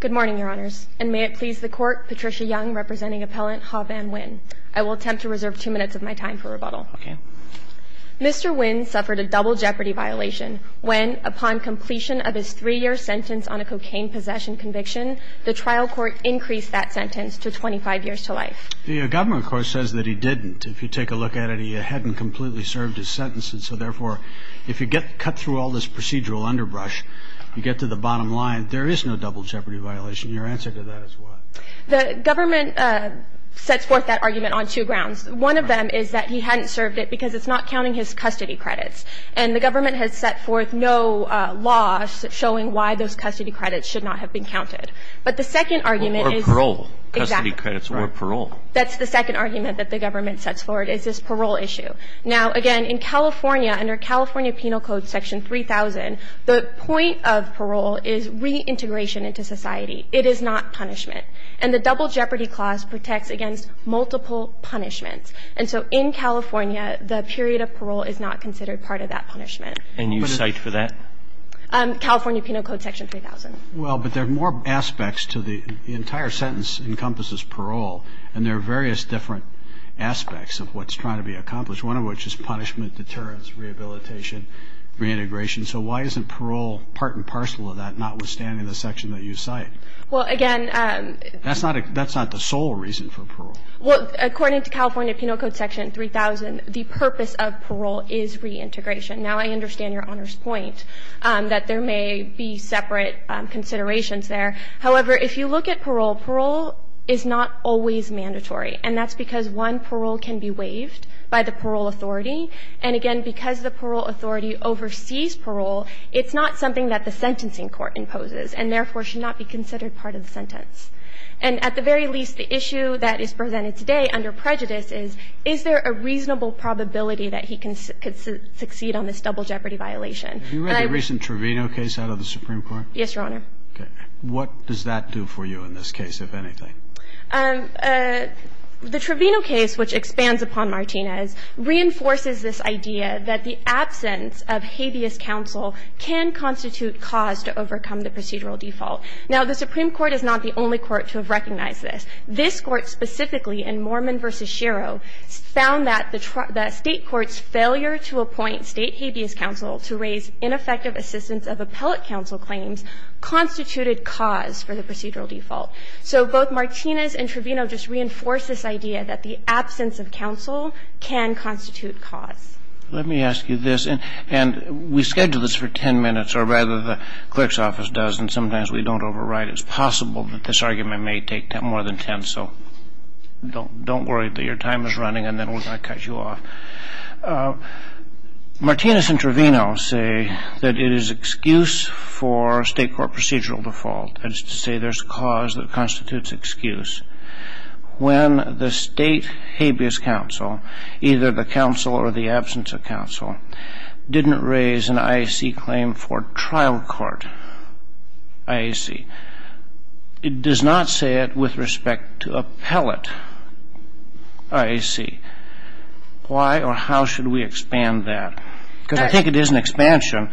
Good morning, Your Honors, and may it please the Court, Patricia Young representing Appellant Ha Van Nguyen. I will attempt to reserve two minutes of my time for rebuttal. Mr. Nguyen suffered a double jeopardy violation when, upon completion of his three-year sentence on a cocaine possession conviction, the trial court increased that sentence to 25 years to life. The government, of course, says that he didn't. If you take a look at it, he hadn't completely served his sentence, and so, therefore, if you cut through all this procedural underbrush, you get to the bottom line. There is no double jeopardy violation. Your answer to that is what? The government sets forth that argument on two grounds. One of them is that he hadn't served it because it's not counting his custody credits, and the government has set forth no laws showing why those custody credits should not have been counted. But the second argument is – Or parole. Exactly. Custody credits or parole. That's the second argument that the government sets forward is this parole issue. Now, again, in California, under California Penal Code Section 3000, the point of parole is reintegration into society. It is not punishment. And the double jeopardy clause protects against multiple punishments. And so in California, the period of parole is not considered part of that punishment. And you cite for that? California Penal Code Section 3000. Well, but there are more aspects to the – the entire sentence encompasses parole, and there are various different aspects of what's trying to be accomplished. One of which is punishment, deterrence, rehabilitation, reintegration. So why isn't parole part and parcel of that, notwithstanding the section that you cite? Well, again – That's not a – that's not the sole reason for parole. Well, according to California Penal Code Section 3000, the purpose of parole is reintegration. Now, I understand Your Honor's point that there may be separate considerations there. However, if you look at parole, parole is not always mandatory. And that's because one, parole can be waived by the parole authority. And again, because the parole authority oversees parole, it's not something that the sentencing court imposes, and therefore should not be considered part of the sentence. And at the very least, the issue that is presented today under prejudice is, is there a reasonable probability that he can succeed on this double jeopardy violation? But I – Have you read the recent Trevino case out of the Supreme Court? Yes, Your Honor. What does that do for you in this case, if anything? The Trevino case, which expands upon Martinez, reinforces this idea that the absence of habeas counsel can constitute cause to overcome the procedural default. Now, the Supreme Court is not the only court to have recognized this. This Court specifically in Mormon v. Shiro found that the State court's failure to appoint State habeas counsel to raise ineffective assistance of appellate counsel claims constituted cause for the procedural default. So both Martinez and Trevino just reinforce this idea that the absence of counsel can constitute cause. Let me ask you this. And we scheduled this for 10 minutes, or rather the clerk's office does, and sometimes we don't override. It's possible that this argument may take more than 10, so don't worry that your time is running and then we're going to cut you off. Martinez and Trevino say that it is excuse for State court procedural default, that is to say there's cause that constitutes excuse, when the State habeas counsel, either the counsel or the absence of counsel, didn't raise an IAC claim for trial court IAC. It does not say it with respect to appellate IAC. Why or how should we expand that? Because I think it is an expansion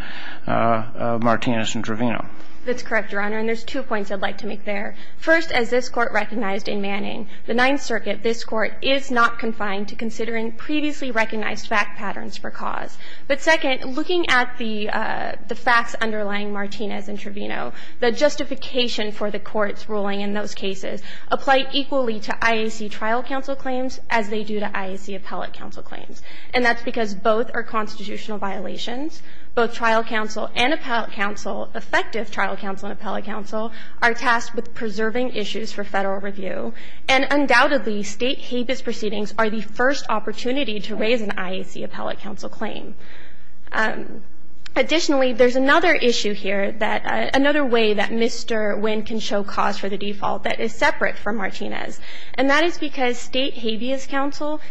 of Martinez and Trevino. That's correct, Your Honor. And there's two points I'd like to make there. First, as this Court recognized in Manning, the Ninth Circuit, this Court, is not confined to considering previously recognized fact patterns for cause. But second, looking at the facts underlying Martinez and Trevino, the justification for the Court's ruling in those cases applied equally to IAC trial counsel claims as they do to IAC appellate counsel claims. And that's because both are constitutional violations. Both trial counsel and appellate counsel, effective trial counsel and appellate counsel, are tasked with preserving issues for Federal review. And undoubtedly, State habeas proceedings are the first opportunity to raise an IAC appellate counsel claim. Additionally, there's another issue here, another way that Mr. Wynn can show cause for the default that is separate from Martinez. And that is because State habeas counsel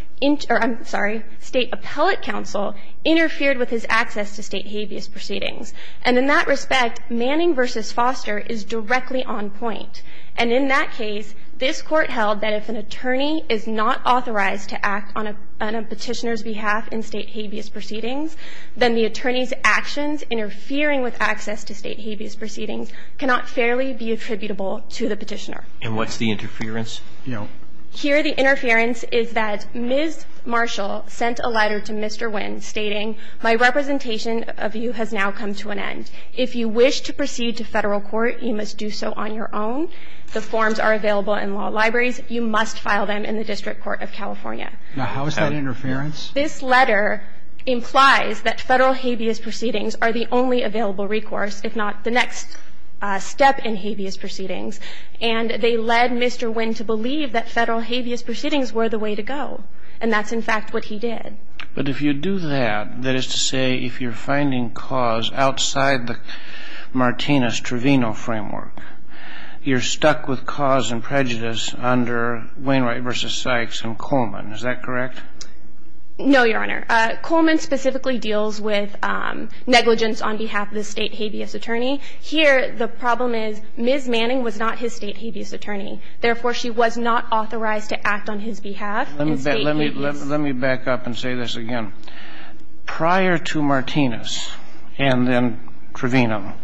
or, I'm sorry, State appellate counsel interfered with his access to State habeas proceedings. And in that respect, Manning v. Foster is directly on point. And in that case, this Court held that if an attorney is not authorized to act on a Petitioner's behalf in State habeas proceedings, then the attorney's actions interfering with access to State habeas proceedings cannot fairly be attributable to the Petitioner. And what's the interference? No. Here the interference is that Ms. Marshall sent a letter to Mr. Wynn stating, my representation of you has now come to an end. If you wish to proceed to Federal court, you must do so on your own. The forms are available in law libraries. You must file them in the District Court of California. Now, how is that interference? This letter implies that Federal habeas proceedings are the only available recourse, if not the next step in habeas proceedings. And they led Mr. Wynn to believe that Federal habeas proceedings were the way to go. And that's, in fact, what he did. But if you do that, that is to say if you're finding cause outside the Martinez-Trovino framework, you're stuck with cause and prejudice under Wainwright v. Sykes and Coleman. Is that correct? No, Your Honor. Coleman specifically deals with negligence on behalf of the State habeas attorney. Here, the problem is Ms. Manning was not his State habeas attorney. Therefore, she was not authorized to act on his behalf in State habeas. Let me back up and say this again. Prior to Martinez and then Trovino,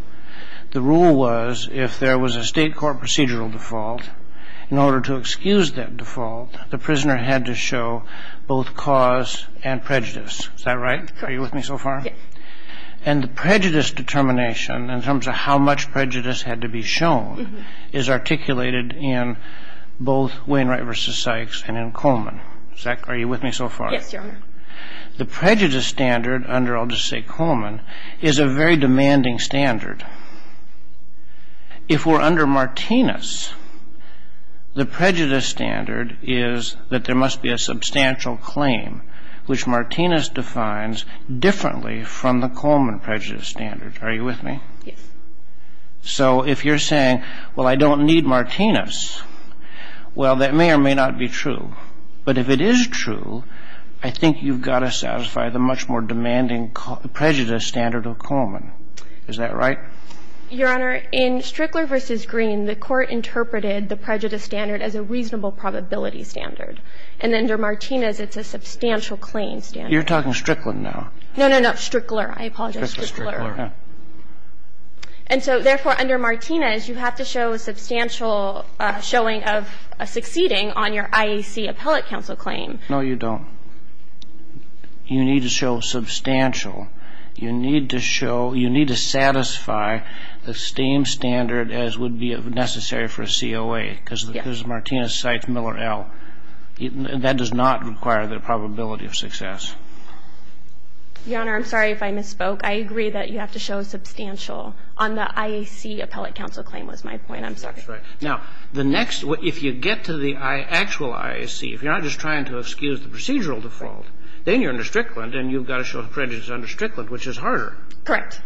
the rule was if there was a State court procedural default, in order to excuse that default, the prisoner had to show both cause and prejudice. Is that right? Are you with me so far? Yes. And the prejudice determination, in terms of how much prejudice had to be shown, is articulated in both Wainwright v. Sykes and in Coleman. Is that correct? Are you with me so far? Yes, Your Honor. The prejudice standard under, I'll just say Coleman, is a very demanding standard. If we're under Martinez, the prejudice standard is that there must be a substantial claim which Martinez defines differently from the Coleman prejudice standard. Are you with me? Yes. So if you're saying, well, I don't need Martinez, well, that may or may not be true. But if it is true, I think you've got to satisfy the much more demanding prejudice standard of Coleman. Is that right? Your Honor, in Strickler v. Green, the Court interpreted the prejudice standard as a reasonable probability standard. And under Martinez, it's a substantial claim standard. You're talking Strickland now. No, no, no. Strickler. I apologize. Strickler. And so, therefore, under Martinez, you have to show a substantial showing of succeeding on your IAC appellate counsel claim. No, you don't. You need to show substantial. You need to satisfy the same standard as would be necessary for a COA, because Martinez cites Miller L. That does not require the probability of success. Your Honor, I'm sorry if I misspoke. I agree that you have to show substantial on the IAC appellate counsel claim was my point. I'm sorry. That's right. Now, the next one, if you get to the actual IAC, if you're not just trying to excuse the procedural default, then you're under Strickland and you've got to show the prejudice under Strickland, which is harder. Correct.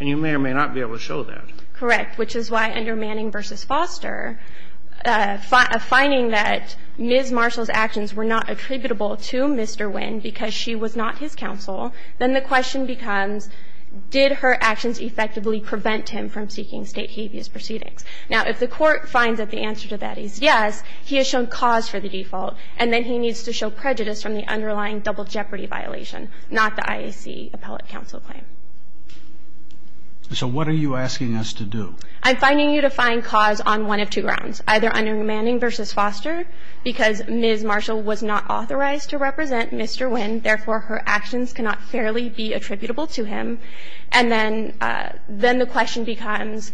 And you may or may not be able to show that. Correct. Now, if the court finds that the answer to that is yes, he has shown cause for the default and then he needs to show prejudice from the underlying double jeopardy violation, not the IAC appellate counsel claim. So what are you asking us to do? I'm finding you to find cause on one of two grounds, either under Manning v. Foster, because Ms. Marshall was not authorized to represent Mr. Wynn, therefore, her actions cannot fairly be attributable to him. And then the question becomes,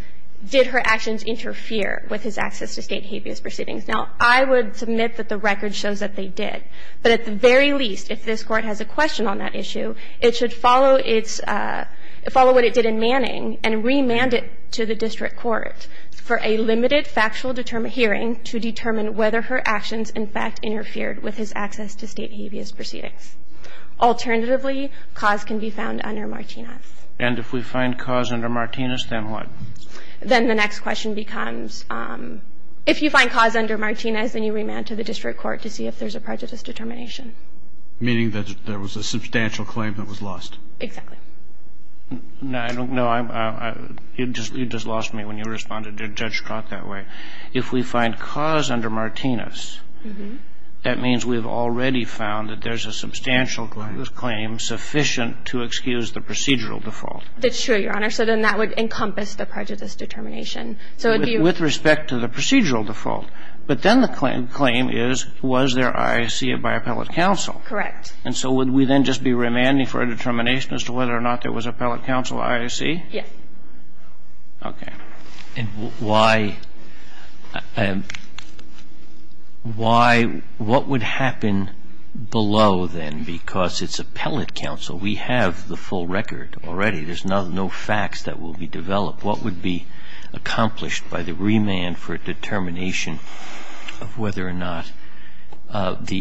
did her actions interfere with his access to state habeas proceedings? Now, I would submit that the record shows that they did. But at the very least, if this Court has a question on that issue, it should follow what it did in Manning and remand it to the district court for a limited factual hearing to determine whether her actions, in fact, interfered with his access to state habeas proceedings. Alternatively, cause can be found under Martinez. And if we find cause under Martinez, then what? Then the next question becomes, if you find cause under Martinez, then you remand to the district court to see if there's a prejudice determination. Meaning that there was a substantial claim that was lost. Exactly. No, I don't know. You just lost me when you responded to Judge Scott that way. If we find cause under Martinez, that means we've already found that there's a substantial claim sufficient to excuse the procedural default. That's true, Your Honor. So then that would encompass the prejudice determination. With respect to the procedural default. But then the claim is, was there I see it by appellate counsel. Correct. And so would we then just be remanding for a determination as to whether or not there was appellate counsel, I see? Yes. Okay. And why, why, what would happen below then? Because it's appellate counsel. We have the full record already. There's no facts that will be developed. What would be accomplished by the remand for a determination of whether or not the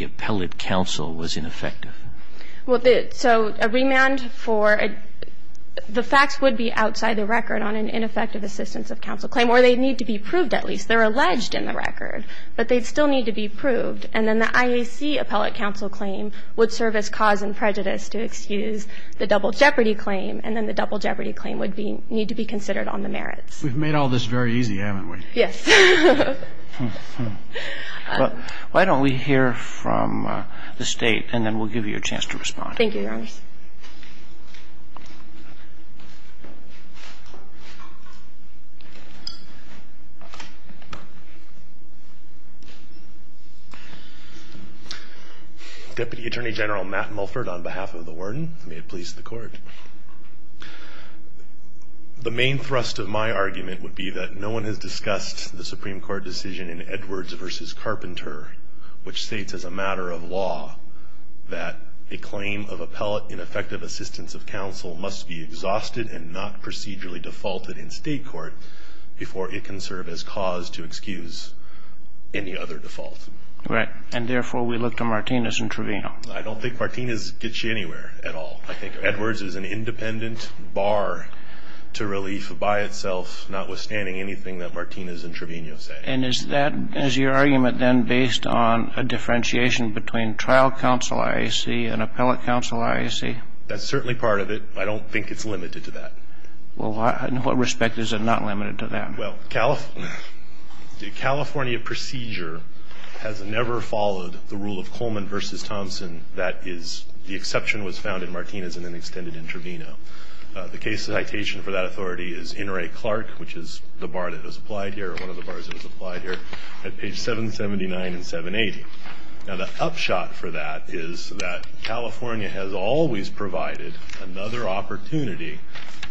So a remand for a, the facts would be outside the record on an ineffective assistance of counsel claim, or they need to be proved at least. They're alleged in the record, but they still need to be proved. And then the IAC appellate counsel claim would serve as cause and prejudice to excuse the double jeopardy claim. And then the double jeopardy claim would be, need to be considered on the merits. We've made all this very easy, haven't we? Yes. Why don't we hear from the state and then we'll give you a chance to respond. Thank you, Your Honor. Deputy Attorney General Matt Mulford on behalf of the warden. May it please the court. The main thrust of my argument would be that no one has discussed the Supreme Court decision in Edwards v. Carpenter, which states as a matter of law that a claim of appellate ineffective assistance of counsel must be exhausted and not procedurally defaulted in state court before it can serve as cause to excuse any other default. Right. And therefore, we look to Martinez and Trevino. I don't think Martinez gets you anywhere at all. I think Edwards is an independent bar to relief by itself, notwithstanding anything that Martinez and Trevino say. And is that, is your argument then based on a differentiation between trial counsel IAC and appellate counsel IAC? That's certainly part of it. I don't think it's limited to that. Well, in what respect is it not limited to that? Well, the California procedure has never followed the rule of Coleman v. Thompson that is, the exception was found in Martinez and then extended in Trevino. The case citation for that authority is in Ray Clark, which is the bar that was applied here, one of the bars that was applied here, at page 779 and 780. Now, the upshot for that is that California has always provided another opportunity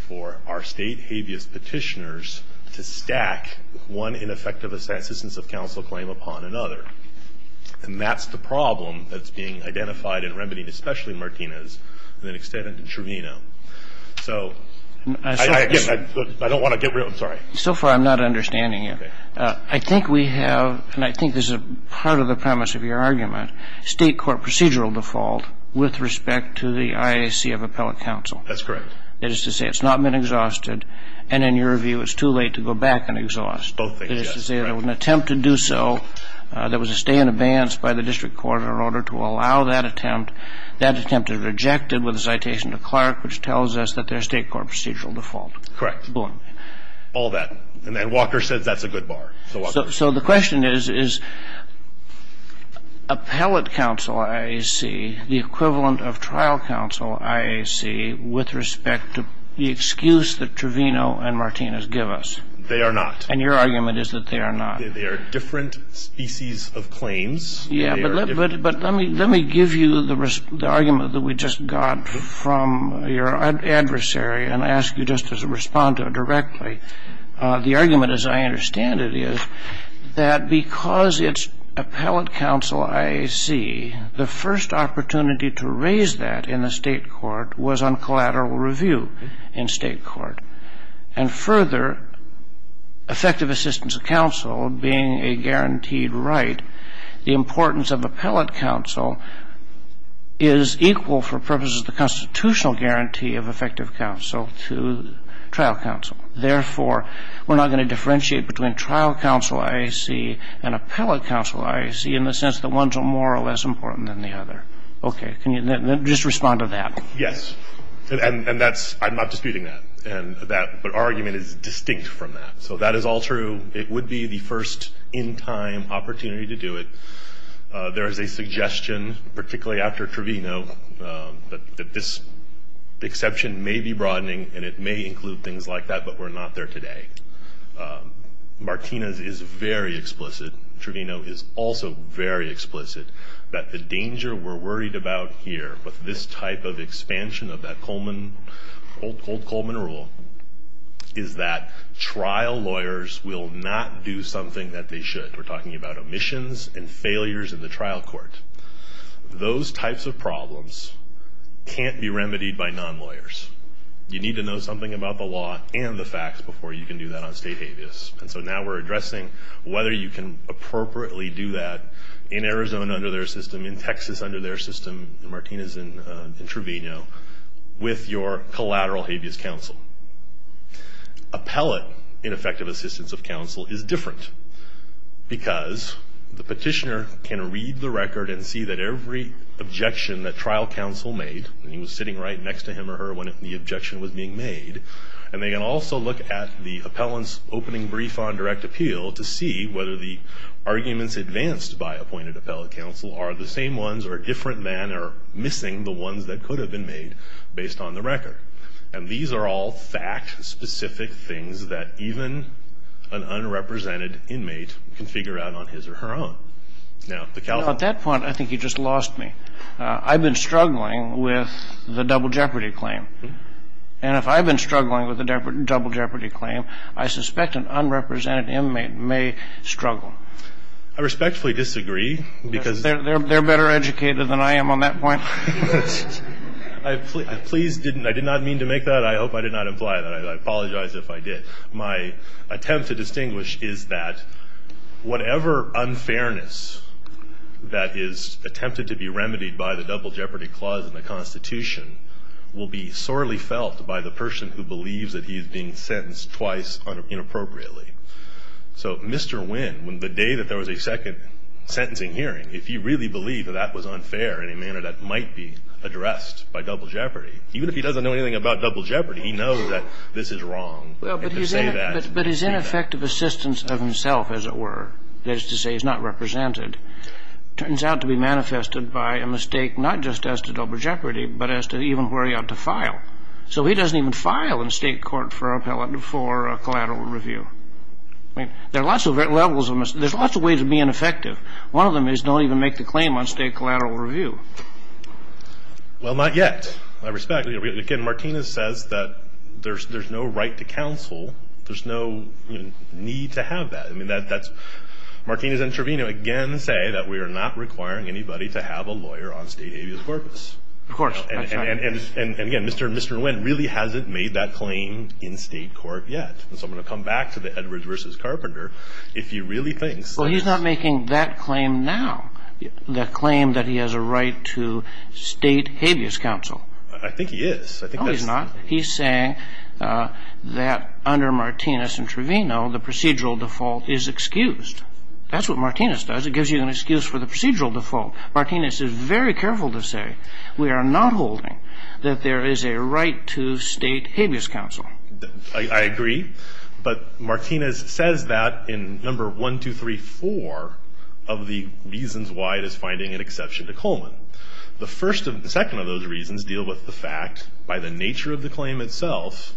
for our state habeas petitioners to stack one ineffective assistance of counsel claim upon another. And that's the problem that's being identified in Remedy, especially Martinez, and then extended in Trevino. So I don't want to get rid of it. I'm sorry. So far I'm not understanding you. Okay. I think we have, and I think this is part of the premise of your argument, state court procedural default with respect to the IAC of appellate counsel. That's correct. That is to say it's not been exhausted, and in your view it's too late to go back and exhaust. Both things, yes. That is to say there was an attempt to do so, there was a stay in advance by the district court in order to allow that attempt. That attempt is rejected with a citation to Clark, which tells us that there's state court procedural default. Correct. Boom. All that. And Walker says that's a good bar. So the question is, is appellate counsel IAC the equivalent of trial counsel IAC with respect to the excuse that Trevino and Martinez give us? They are not. And your argument is that they are not. They are different species of claims. Yeah, but let me give you the argument that we just got from your adversary and ask you just to respond to it directly. The argument, as I understand it, is that because it's appellate counsel IAC, the first opportunity to raise that in the state court was on collateral review in state court. And further, effective assistance of counsel being a guaranteed right, the importance of appellate counsel is equal for purposes of the constitutional guarantee of effective counsel to trial counsel. Therefore, we're not going to differentiate between trial counsel IAC and appellate counsel IAC in the sense that one's more or less important than the other. Okay. Can you just respond to that? Yes. And that's ‑‑ I'm not disputing that. But our argument is distinct from that. So that is all true. It would be the first in time opportunity to do it. There is a suggestion, particularly after Trevino, that this exception may be broadening and it may include things like that, but we're not there today. Martinez is very explicit. Trevino is also very explicit that the danger we're worried about here with this type of expansion of that Coleman, old Coleman rule, is that trial lawyers will not do something that they should. We're talking about omissions and failures in the trial court. Those types of problems can't be remedied by non-lawyers. You need to know something about the law and the facts before you can do that on state habeas. And so now we're addressing whether you can appropriately do that in Arizona under their system, in Texas under their system. And Martinez and Trevino with your collateral habeas counsel. Appellate ineffective assistance of counsel is different because the petitioner can read the record and see that every objection that trial counsel made, and he was sitting right next to him or her when the objection was being made, and they can also look at the appellant's opening brief on direct appeal to see whether the arguments advanced by appointed appellate counsel are the same ones or different than or missing the ones that could have been made based on the record. And these are all fact-specific things that even an unrepresented inmate can figure out on his or her own. At that point, I think you just lost me. I've been struggling with the double jeopardy claim. And if I've been struggling with a double jeopardy claim, I suspect an unrepresented inmate may struggle. I respectfully disagree, because they're better educated than I am on that point. I please didn't. I did not mean to make that. I hope I did not imply that. I apologize if I did. My attempt to distinguish is that whatever unfairness that is attempted to be remedied by the double jeopardy clause in the Constitution will be sorely felt by the person who believes that he is being sentenced twice inappropriately. So Mr. Wynn, the day that there was a second sentencing hearing, if you really believe that that was unfair in a manner that might be addressed by double jeopardy, even if he doesn't know anything about double jeopardy, he knows that this is wrong. But his ineffective assistance of himself, as it were, that is to say he's not represented, turns out to be manifested by a mistake not just as to double jeopardy, but as to even worry out to file. So he doesn't even file in state court for a collateral review. There's lots of ways of being effective. One of them is don't even make the claim on state collateral review. Well, not yet, I respect. Again, Martinez says that there's no right to counsel. There's no need to have that. Martinez and Trevino, again, say that we are not requiring anybody to have a lawyer on state habeas corpus. Of course. And, again, Mr. Nguyen really hasn't made that claim in state court yet. So I'm going to come back to the Edwards v. Carpenter. If he really thinks that he has. Well, he's not making that claim now, the claim that he has a right to state habeas counsel. I think he is. No, he's not. He's saying that under Martinez and Trevino the procedural default is excused. That's what Martinez does. It gives you an excuse for the procedural default. Martinez is very careful to say we are not holding that there is a right to state habeas counsel. I agree. But Martinez says that in number 1234 of the reasons why it is finding an exception to Coleman. The second of those reasons deal with the fact, by the nature of the claim itself,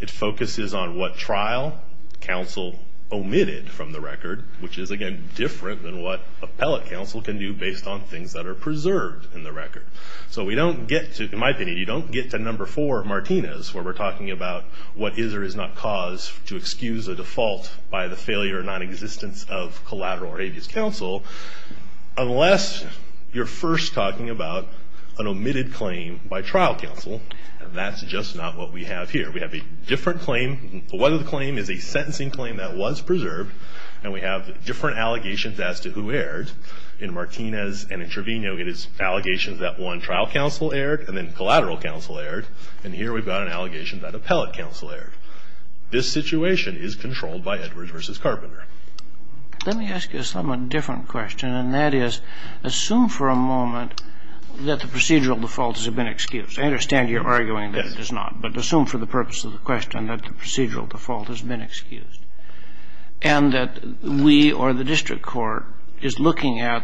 it focuses on what trial counsel omitted from the record, which is, again, different than what appellate counsel can do based on things that are preserved in the record. So we don't get to, in my opinion, you don't get to number four of Martinez where we're talking about what is or is not cause to excuse a default by the failure or nonexistence of collateral or habeas counsel. Unless you're first talking about an omitted claim by trial counsel, that's just not what we have here. We have a different claim. One of the claims is a sentencing claim that was preserved. And we have different allegations as to who erred. In Martinez and in Trevino, it is allegations that one trial counsel erred and then collateral counsel erred. And here we've got an allegation that appellate counsel erred. This situation is controlled by Edwards v. Carpenter. Let me ask you a somewhat different question, and that is assume for a moment that the procedural default has been excused. I understand you're arguing that it is not, but assume for the purpose of the question that the procedural default has been excused. And that we or the district court is looking at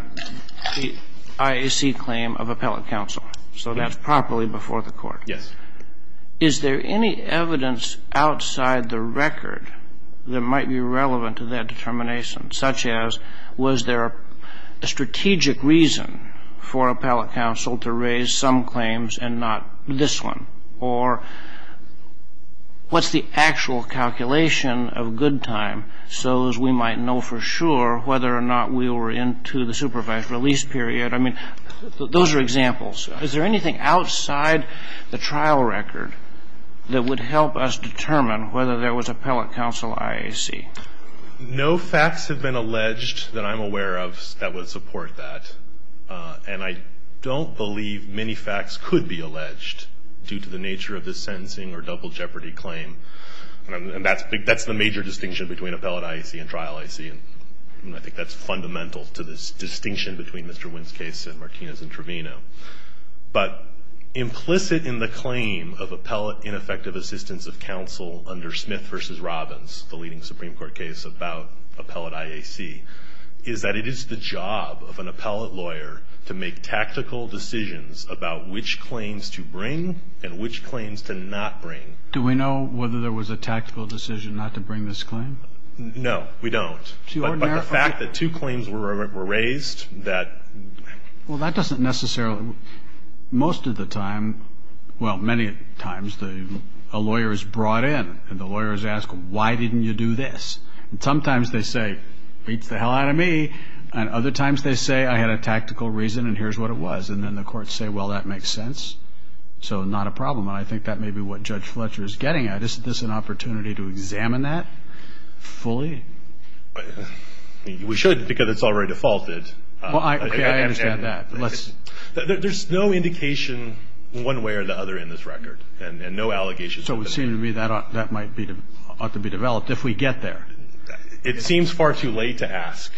the IAC claim of appellate counsel. So that's properly before the court. Yes. Is there any evidence outside the record that might be relevant to that determination, such as was there a strategic reason for appellate counsel to raise some claims and not this one? Or what's the actual calculation of good time, so as we might know for sure whether or not we were into the supervised release period? I mean, those are examples. Is there anything outside the trial record that would help us determine whether there was appellate counsel IAC? No facts have been alleged that I'm aware of that would support that. And I don't believe many facts could be alleged due to the nature of this sentencing or double jeopardy claim. And that's the major distinction between appellate IAC and trial IAC, and I think that's fundamental to this distinction between Mr. Wynn's case and Martinez and Trevino. But implicit in the claim of appellate ineffective assistance of counsel under Smith v. Robbins, the leading Supreme Court case about appellate IAC, is that it is the job of an appellate lawyer to make tactical decisions about which claims to bring and which claims to not bring. Do we know whether there was a tactical decision not to bring this claim? No, we don't. But the fact that two claims were raised that — Well, that doesn't necessarily — most of the time, well, many times, a lawyer is brought in, and the lawyers ask, why didn't you do this? And sometimes they say, beats the hell out of me. And other times they say, I had a tactical reason, and here's what it was. And then the courts say, well, that makes sense, so not a problem. And I think that may be what Judge Fletcher is getting at. Isn't this an opportunity to examine that fully? We should, because it's already defaulted. Okay, I understand that. There's no indication one way or the other in this record, and no allegations. So it would seem to me that ought to be developed if we get there. It seems far too late to ask,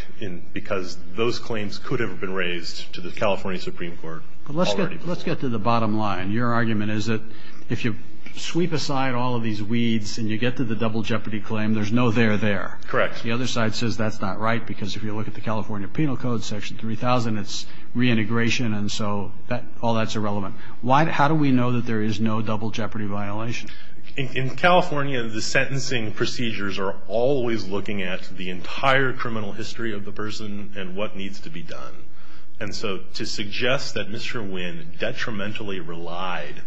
because those claims could have been raised to the California Supreme Court already. But let's get to the bottom line. Your argument is that if you sweep aside all of these weeds and you get to the double jeopardy claim, there's no there there. Correct. The other side says that's not right, because if you look at the California Penal Code, Section 3000, it's reintegration, and so all that's irrelevant. How do we know that there is no double jeopardy violation? In California, the sentencing procedures are always looking at the entire criminal history of the person and what needs to be done. And so to suggest that Mr. Wynn detrimentally relied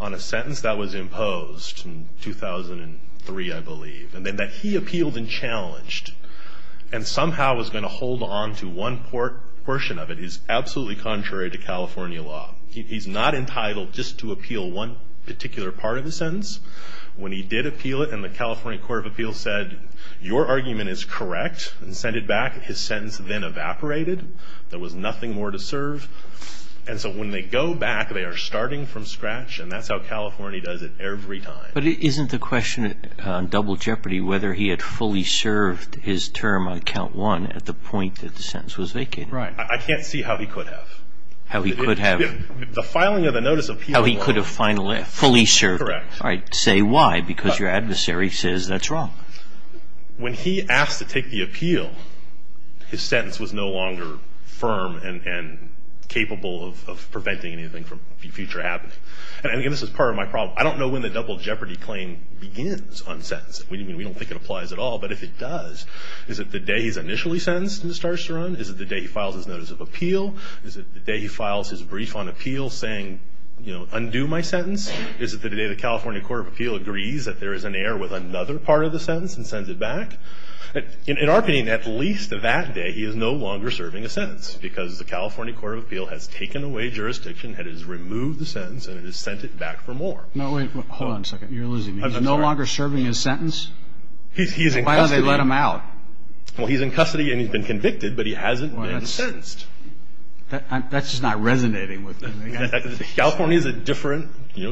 on a sentence that was imposed in 2003, I believe, and then that he appealed and challenged and somehow was going to hold on to one portion of it is absolutely contrary to California law. He's not entitled just to appeal one particular part of the sentence. When he did appeal it and the California Court of Appeals said your argument is correct and sent it back, his sentence then evaporated. There was nothing more to serve. And so when they go back, they are starting from scratch, and that's how California does it every time. But isn't the question on double jeopardy whether he had fully served his term on count one at the point that the sentence was vacated? Right. I can't see how he could have. How he could have. The filing of the notice of appeal. How he could have fully served. Correct. Say why, because your adversary says that's wrong. When he asked to take the appeal, his sentence was no longer firm and capable of preventing anything from future happening. And this is part of my problem. I don't know when the double jeopardy claim begins on sentence. We don't think it applies at all. But if it does, is it the day he's initially sentenced and starts to run? Is it the day he files his notice of appeal? Is it the day he files his brief on appeal saying, you know, undo my sentence? Is it the day the California Court of Appeal agrees that there is an error with another part of the sentence and sends it back? In our opinion, at least that day he is no longer serving a sentence because the California Court of Appeal has taken away jurisdiction, it has removed the sentence, and it has sent it back for more. No, wait. Hold on a second. You're losing me. He's no longer serving his sentence? He's in custody. Why don't they let him out? Well, he's in custody and he's been convicted, but he hasn't been sentenced. That's just not resonating with me. California is a different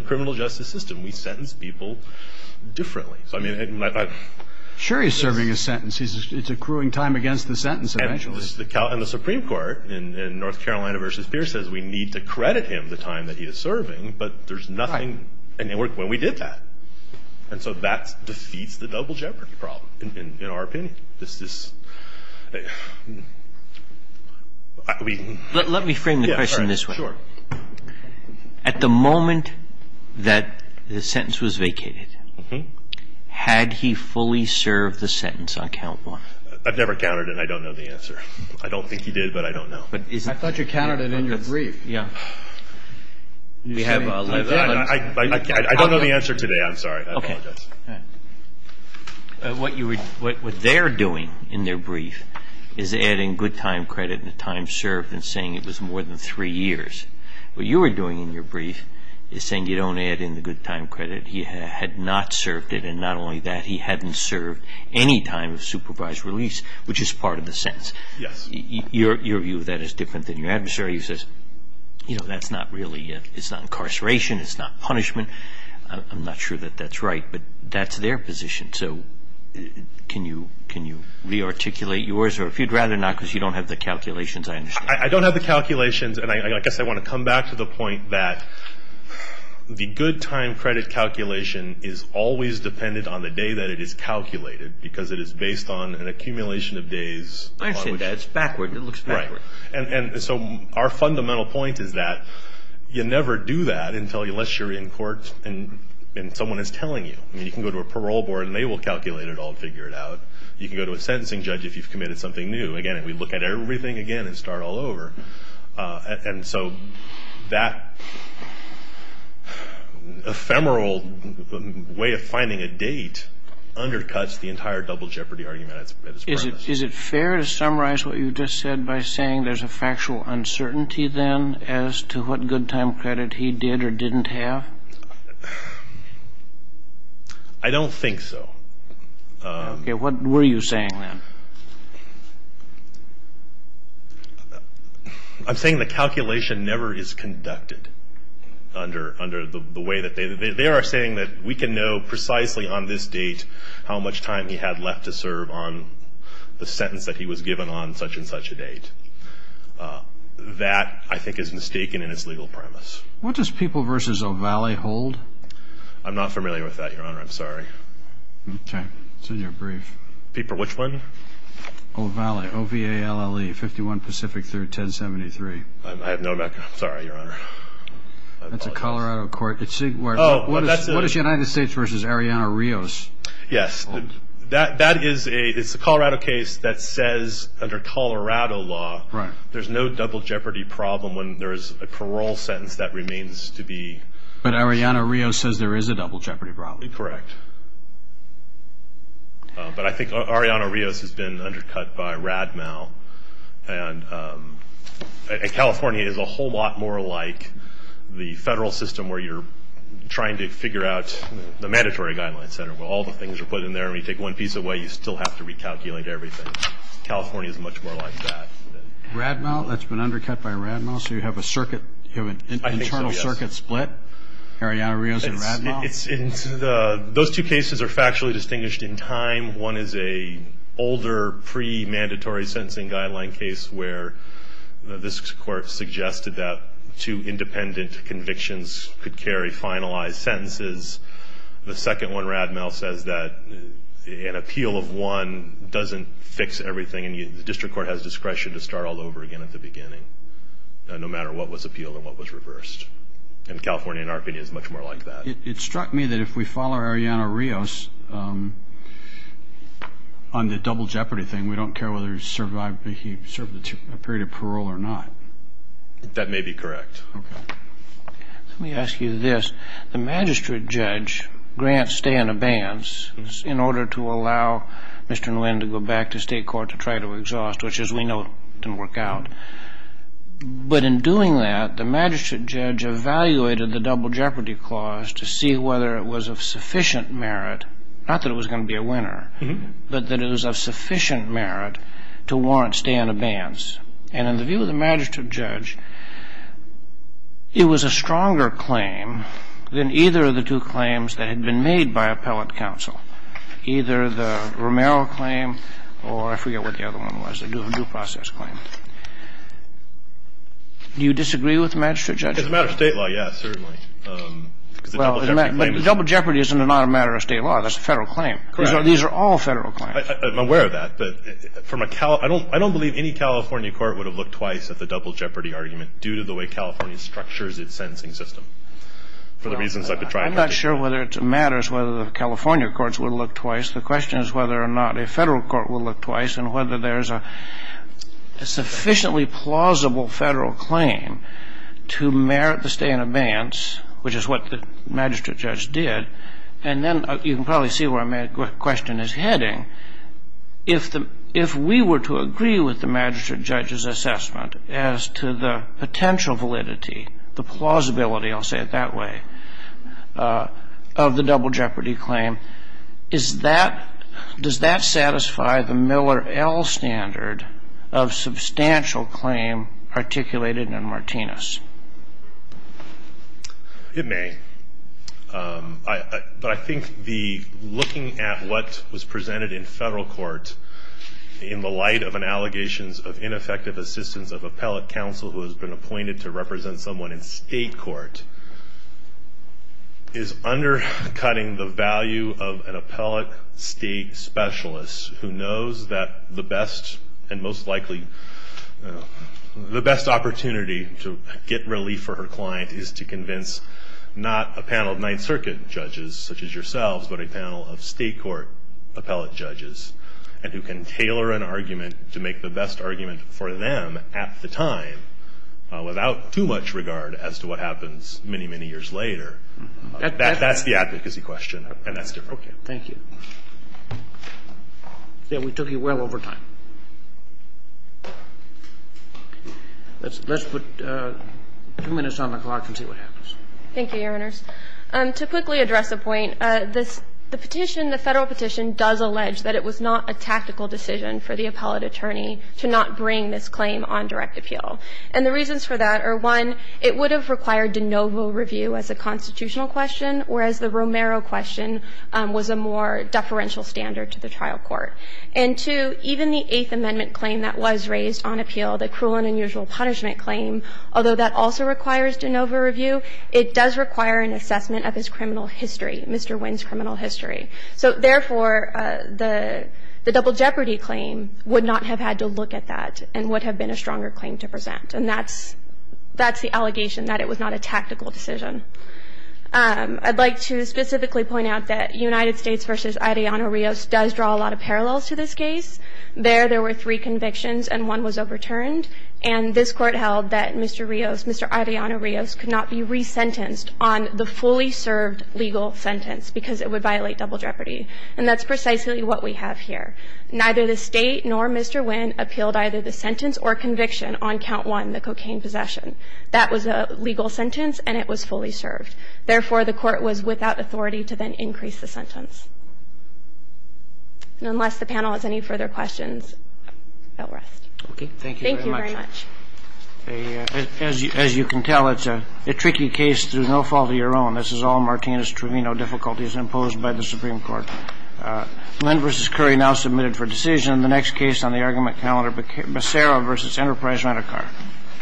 criminal justice system. We sentence people differently. Sure he's serving his sentence. It's accruing time against the sentence eventually. And the Supreme Court in North Carolina v. Pierce says we need to credit him the time that he is serving, but there's nothing. And it worked when we did that. And so that defeats the double jeopardy problem, in our opinion. Let me frame the question this way. Sure. At the moment that the sentence was vacated, had he fully served the sentence on count one? I've never counted and I don't know the answer. I don't think he did, but I don't know. I thought you counted it in your brief. Yeah. I don't know the answer today. I'm sorry. I apologize. What they're doing in their brief is adding good time credit and the time served and saying it was more than three years. What you were doing in your brief is saying you don't add in the good time credit. He had not served it, and not only that, he hadn't served any time of supervised release, which is part of the sentence. Your view of that is different than your adversary's. That's not really incarceration. It's not punishment. I'm not sure that that's right, but that's their position. So can you re-articulate yours? Or if you'd rather not because you don't have the calculations, I understand. I don't have the calculations, and I guess I want to come back to the point that the good time credit calculation is always dependent on the day that it is calculated because it is based on an accumulation of days. I understand that. It's backward. It looks backward. Right. And so our fundamental point is that you never do that unless you're in court and someone is telling you. You can go to a parole board, and they will calculate it all and figure it out. You can go to a sentencing judge if you've committed something new. Again, we look at everything again and start all over. And so that ephemeral way of finding a date undercuts the entire double jeopardy argument. Is it fair to summarize what you just said by saying there's a factual uncertainty then as to what good time credit he did or didn't have? I don't think so. Okay. What were you saying then? I'm saying the calculation never is conducted under the way that they are saying that we can know precisely on this date how much time he had left to serve on the sentence that he was given on such and such a date. That, I think, is mistaken in its legal premise. What does People v. O'Valley hold? I'm not familiar with that, Your Honor. I'm sorry. Okay. It's in your brief. People which one? O'Valley, O-V-A-L-L-E, 51 Pacific 3rd, 1073. I have no mecca. I'm sorry, Your Honor. That's a Colorado court. What is United States v. Arianna Rios? Yes. That is a Colorado case that says under Colorado law there's no double jeopardy problem when there's a parole sentence that remains to be. But Arianna Rios says there is a double jeopardy problem. Correct. But I think Arianna Rios has been undercut by Radmel. And California is a whole lot more like the federal system where you're trying to figure out the mandatory guidelines. All the things are put in there. When you take one piece away, you still have to recalculate everything. California is much more like that. Radmel? That's been undercut by Radmel? So you have an internal circuit split? I think so, yes. Arianna Rios and Radmel? Those two cases are factually distinguished in time. One is an older pre-mandatory sentencing guideline case where this court suggested that two independent convictions could carry finalized sentences. The second one, Radmel, says that an appeal of one doesn't fix everything. And the district court has discretion to start all over again at the beginning, no matter what was appealed and what was reversed. And California, in our opinion, is much more like that. It struck me that if we follow Arianna Rios on the double jeopardy thing, we don't care whether he served a period of parole or not. That may be correct. Okay. Let me ask you this. The magistrate judge grants stay in abeyance in order to allow Mr. Nguyen to go back to state court to try to exhaust, which, as we know, didn't work out. But in doing that, the magistrate judge evaluated the double jeopardy clause to see whether it was of sufficient merit, not that it was going to be a winner, but that it was of sufficient merit to warrant stay in abeyance. And in the view of the magistrate judge, it was a stronger claim than either of the two claims that had been made by appellate counsel, either the Romero claim or I forget what the other one was, the due process claim. Do you disagree with the magistrate judge? It's a matter of state law, yes, certainly. Well, the double jeopardy is not a matter of state law. That's a federal claim. Correct. These are all federal claims. I'm aware of that. I don't believe any California court would have looked twice at the double jeopardy argument due to the way California structures its sentencing system, for the reasons I've been trying to articulate. I'm not sure whether it matters whether the California courts would look twice. The question is whether or not a federal court would look twice and whether there is a sufficiently plausible federal claim to merit the stay in abeyance, which is what the magistrate judge did. And then you can probably see where my question is heading. If we were to agree with the magistrate judge's assessment as to the potential validity, the plausibility, I'll say it that way, of the double jeopardy claim, does that satisfy the Miller L. standard of substantial claim articulated in Martinez? It may. But I think looking at what was presented in federal court in the light of allegations of ineffective assistance of appellate counsel who has been appointed to represent someone in state court is undercutting the value of an appellate state specialist who knows that the best opportunity to get relief for her client is to convince not a panel of Ninth Circuit judges, such as yourselves, but a panel of state court appellate judges, and who can tailor an argument to make the best argument for them at the time without too much regard as to what happens many, many years later. That's the advocacy question, and that's different. Thank you. We took you well over time. Let's put two minutes on the clock and see what happens. Thank you, Your Honors. To quickly address a point, the petition, the federal petition, does allege that it was not a tactical decision for the appellate attorney to not bring this claim on direct appeal. And the reasons for that are, one, it would have required de novo review as a constitutional question, whereas the Romero question was a more deferential standard to the trial court. And, two, even the Eighth Amendment claim that was raised on appeal, the cruel and unusual punishment claim, although that also requires de novo review, it does require an assessment of his criminal history, Mr. Wynn's criminal history. So, therefore, the double jeopardy claim would not have had to look at that and would have been a stronger claim to present. And that's the allegation, that it was not a tactical decision. I'd like to specifically point out that United States v. Adriano Rios does draw a lot of parallels to this case. There, there were three convictions and one was overturned. And this Court held that Mr. Rios, Mr. Adriano Rios, could not be resentenced on the fully served legal sentence because it would violate double jeopardy. And that's precisely what we have here. Neither the State nor Mr. Wynn appealed either the sentence or conviction on count one, the cocaine possession. That was a legal sentence and it was fully served. Therefore, the Court was without authority to then increase the sentence. And unless the panel has any further questions, I'll rest. Thank you very much. Thank you very much. As you can tell, it's a tricky case through no fault of your own. This is all Martinez-Trevino difficulties imposed by the Supreme Court. Lynn v. Curry now submitted for decision. The next case on the argument calendar, Becerra v. Enterprise Rent-A-Car. Becerra. Becerra.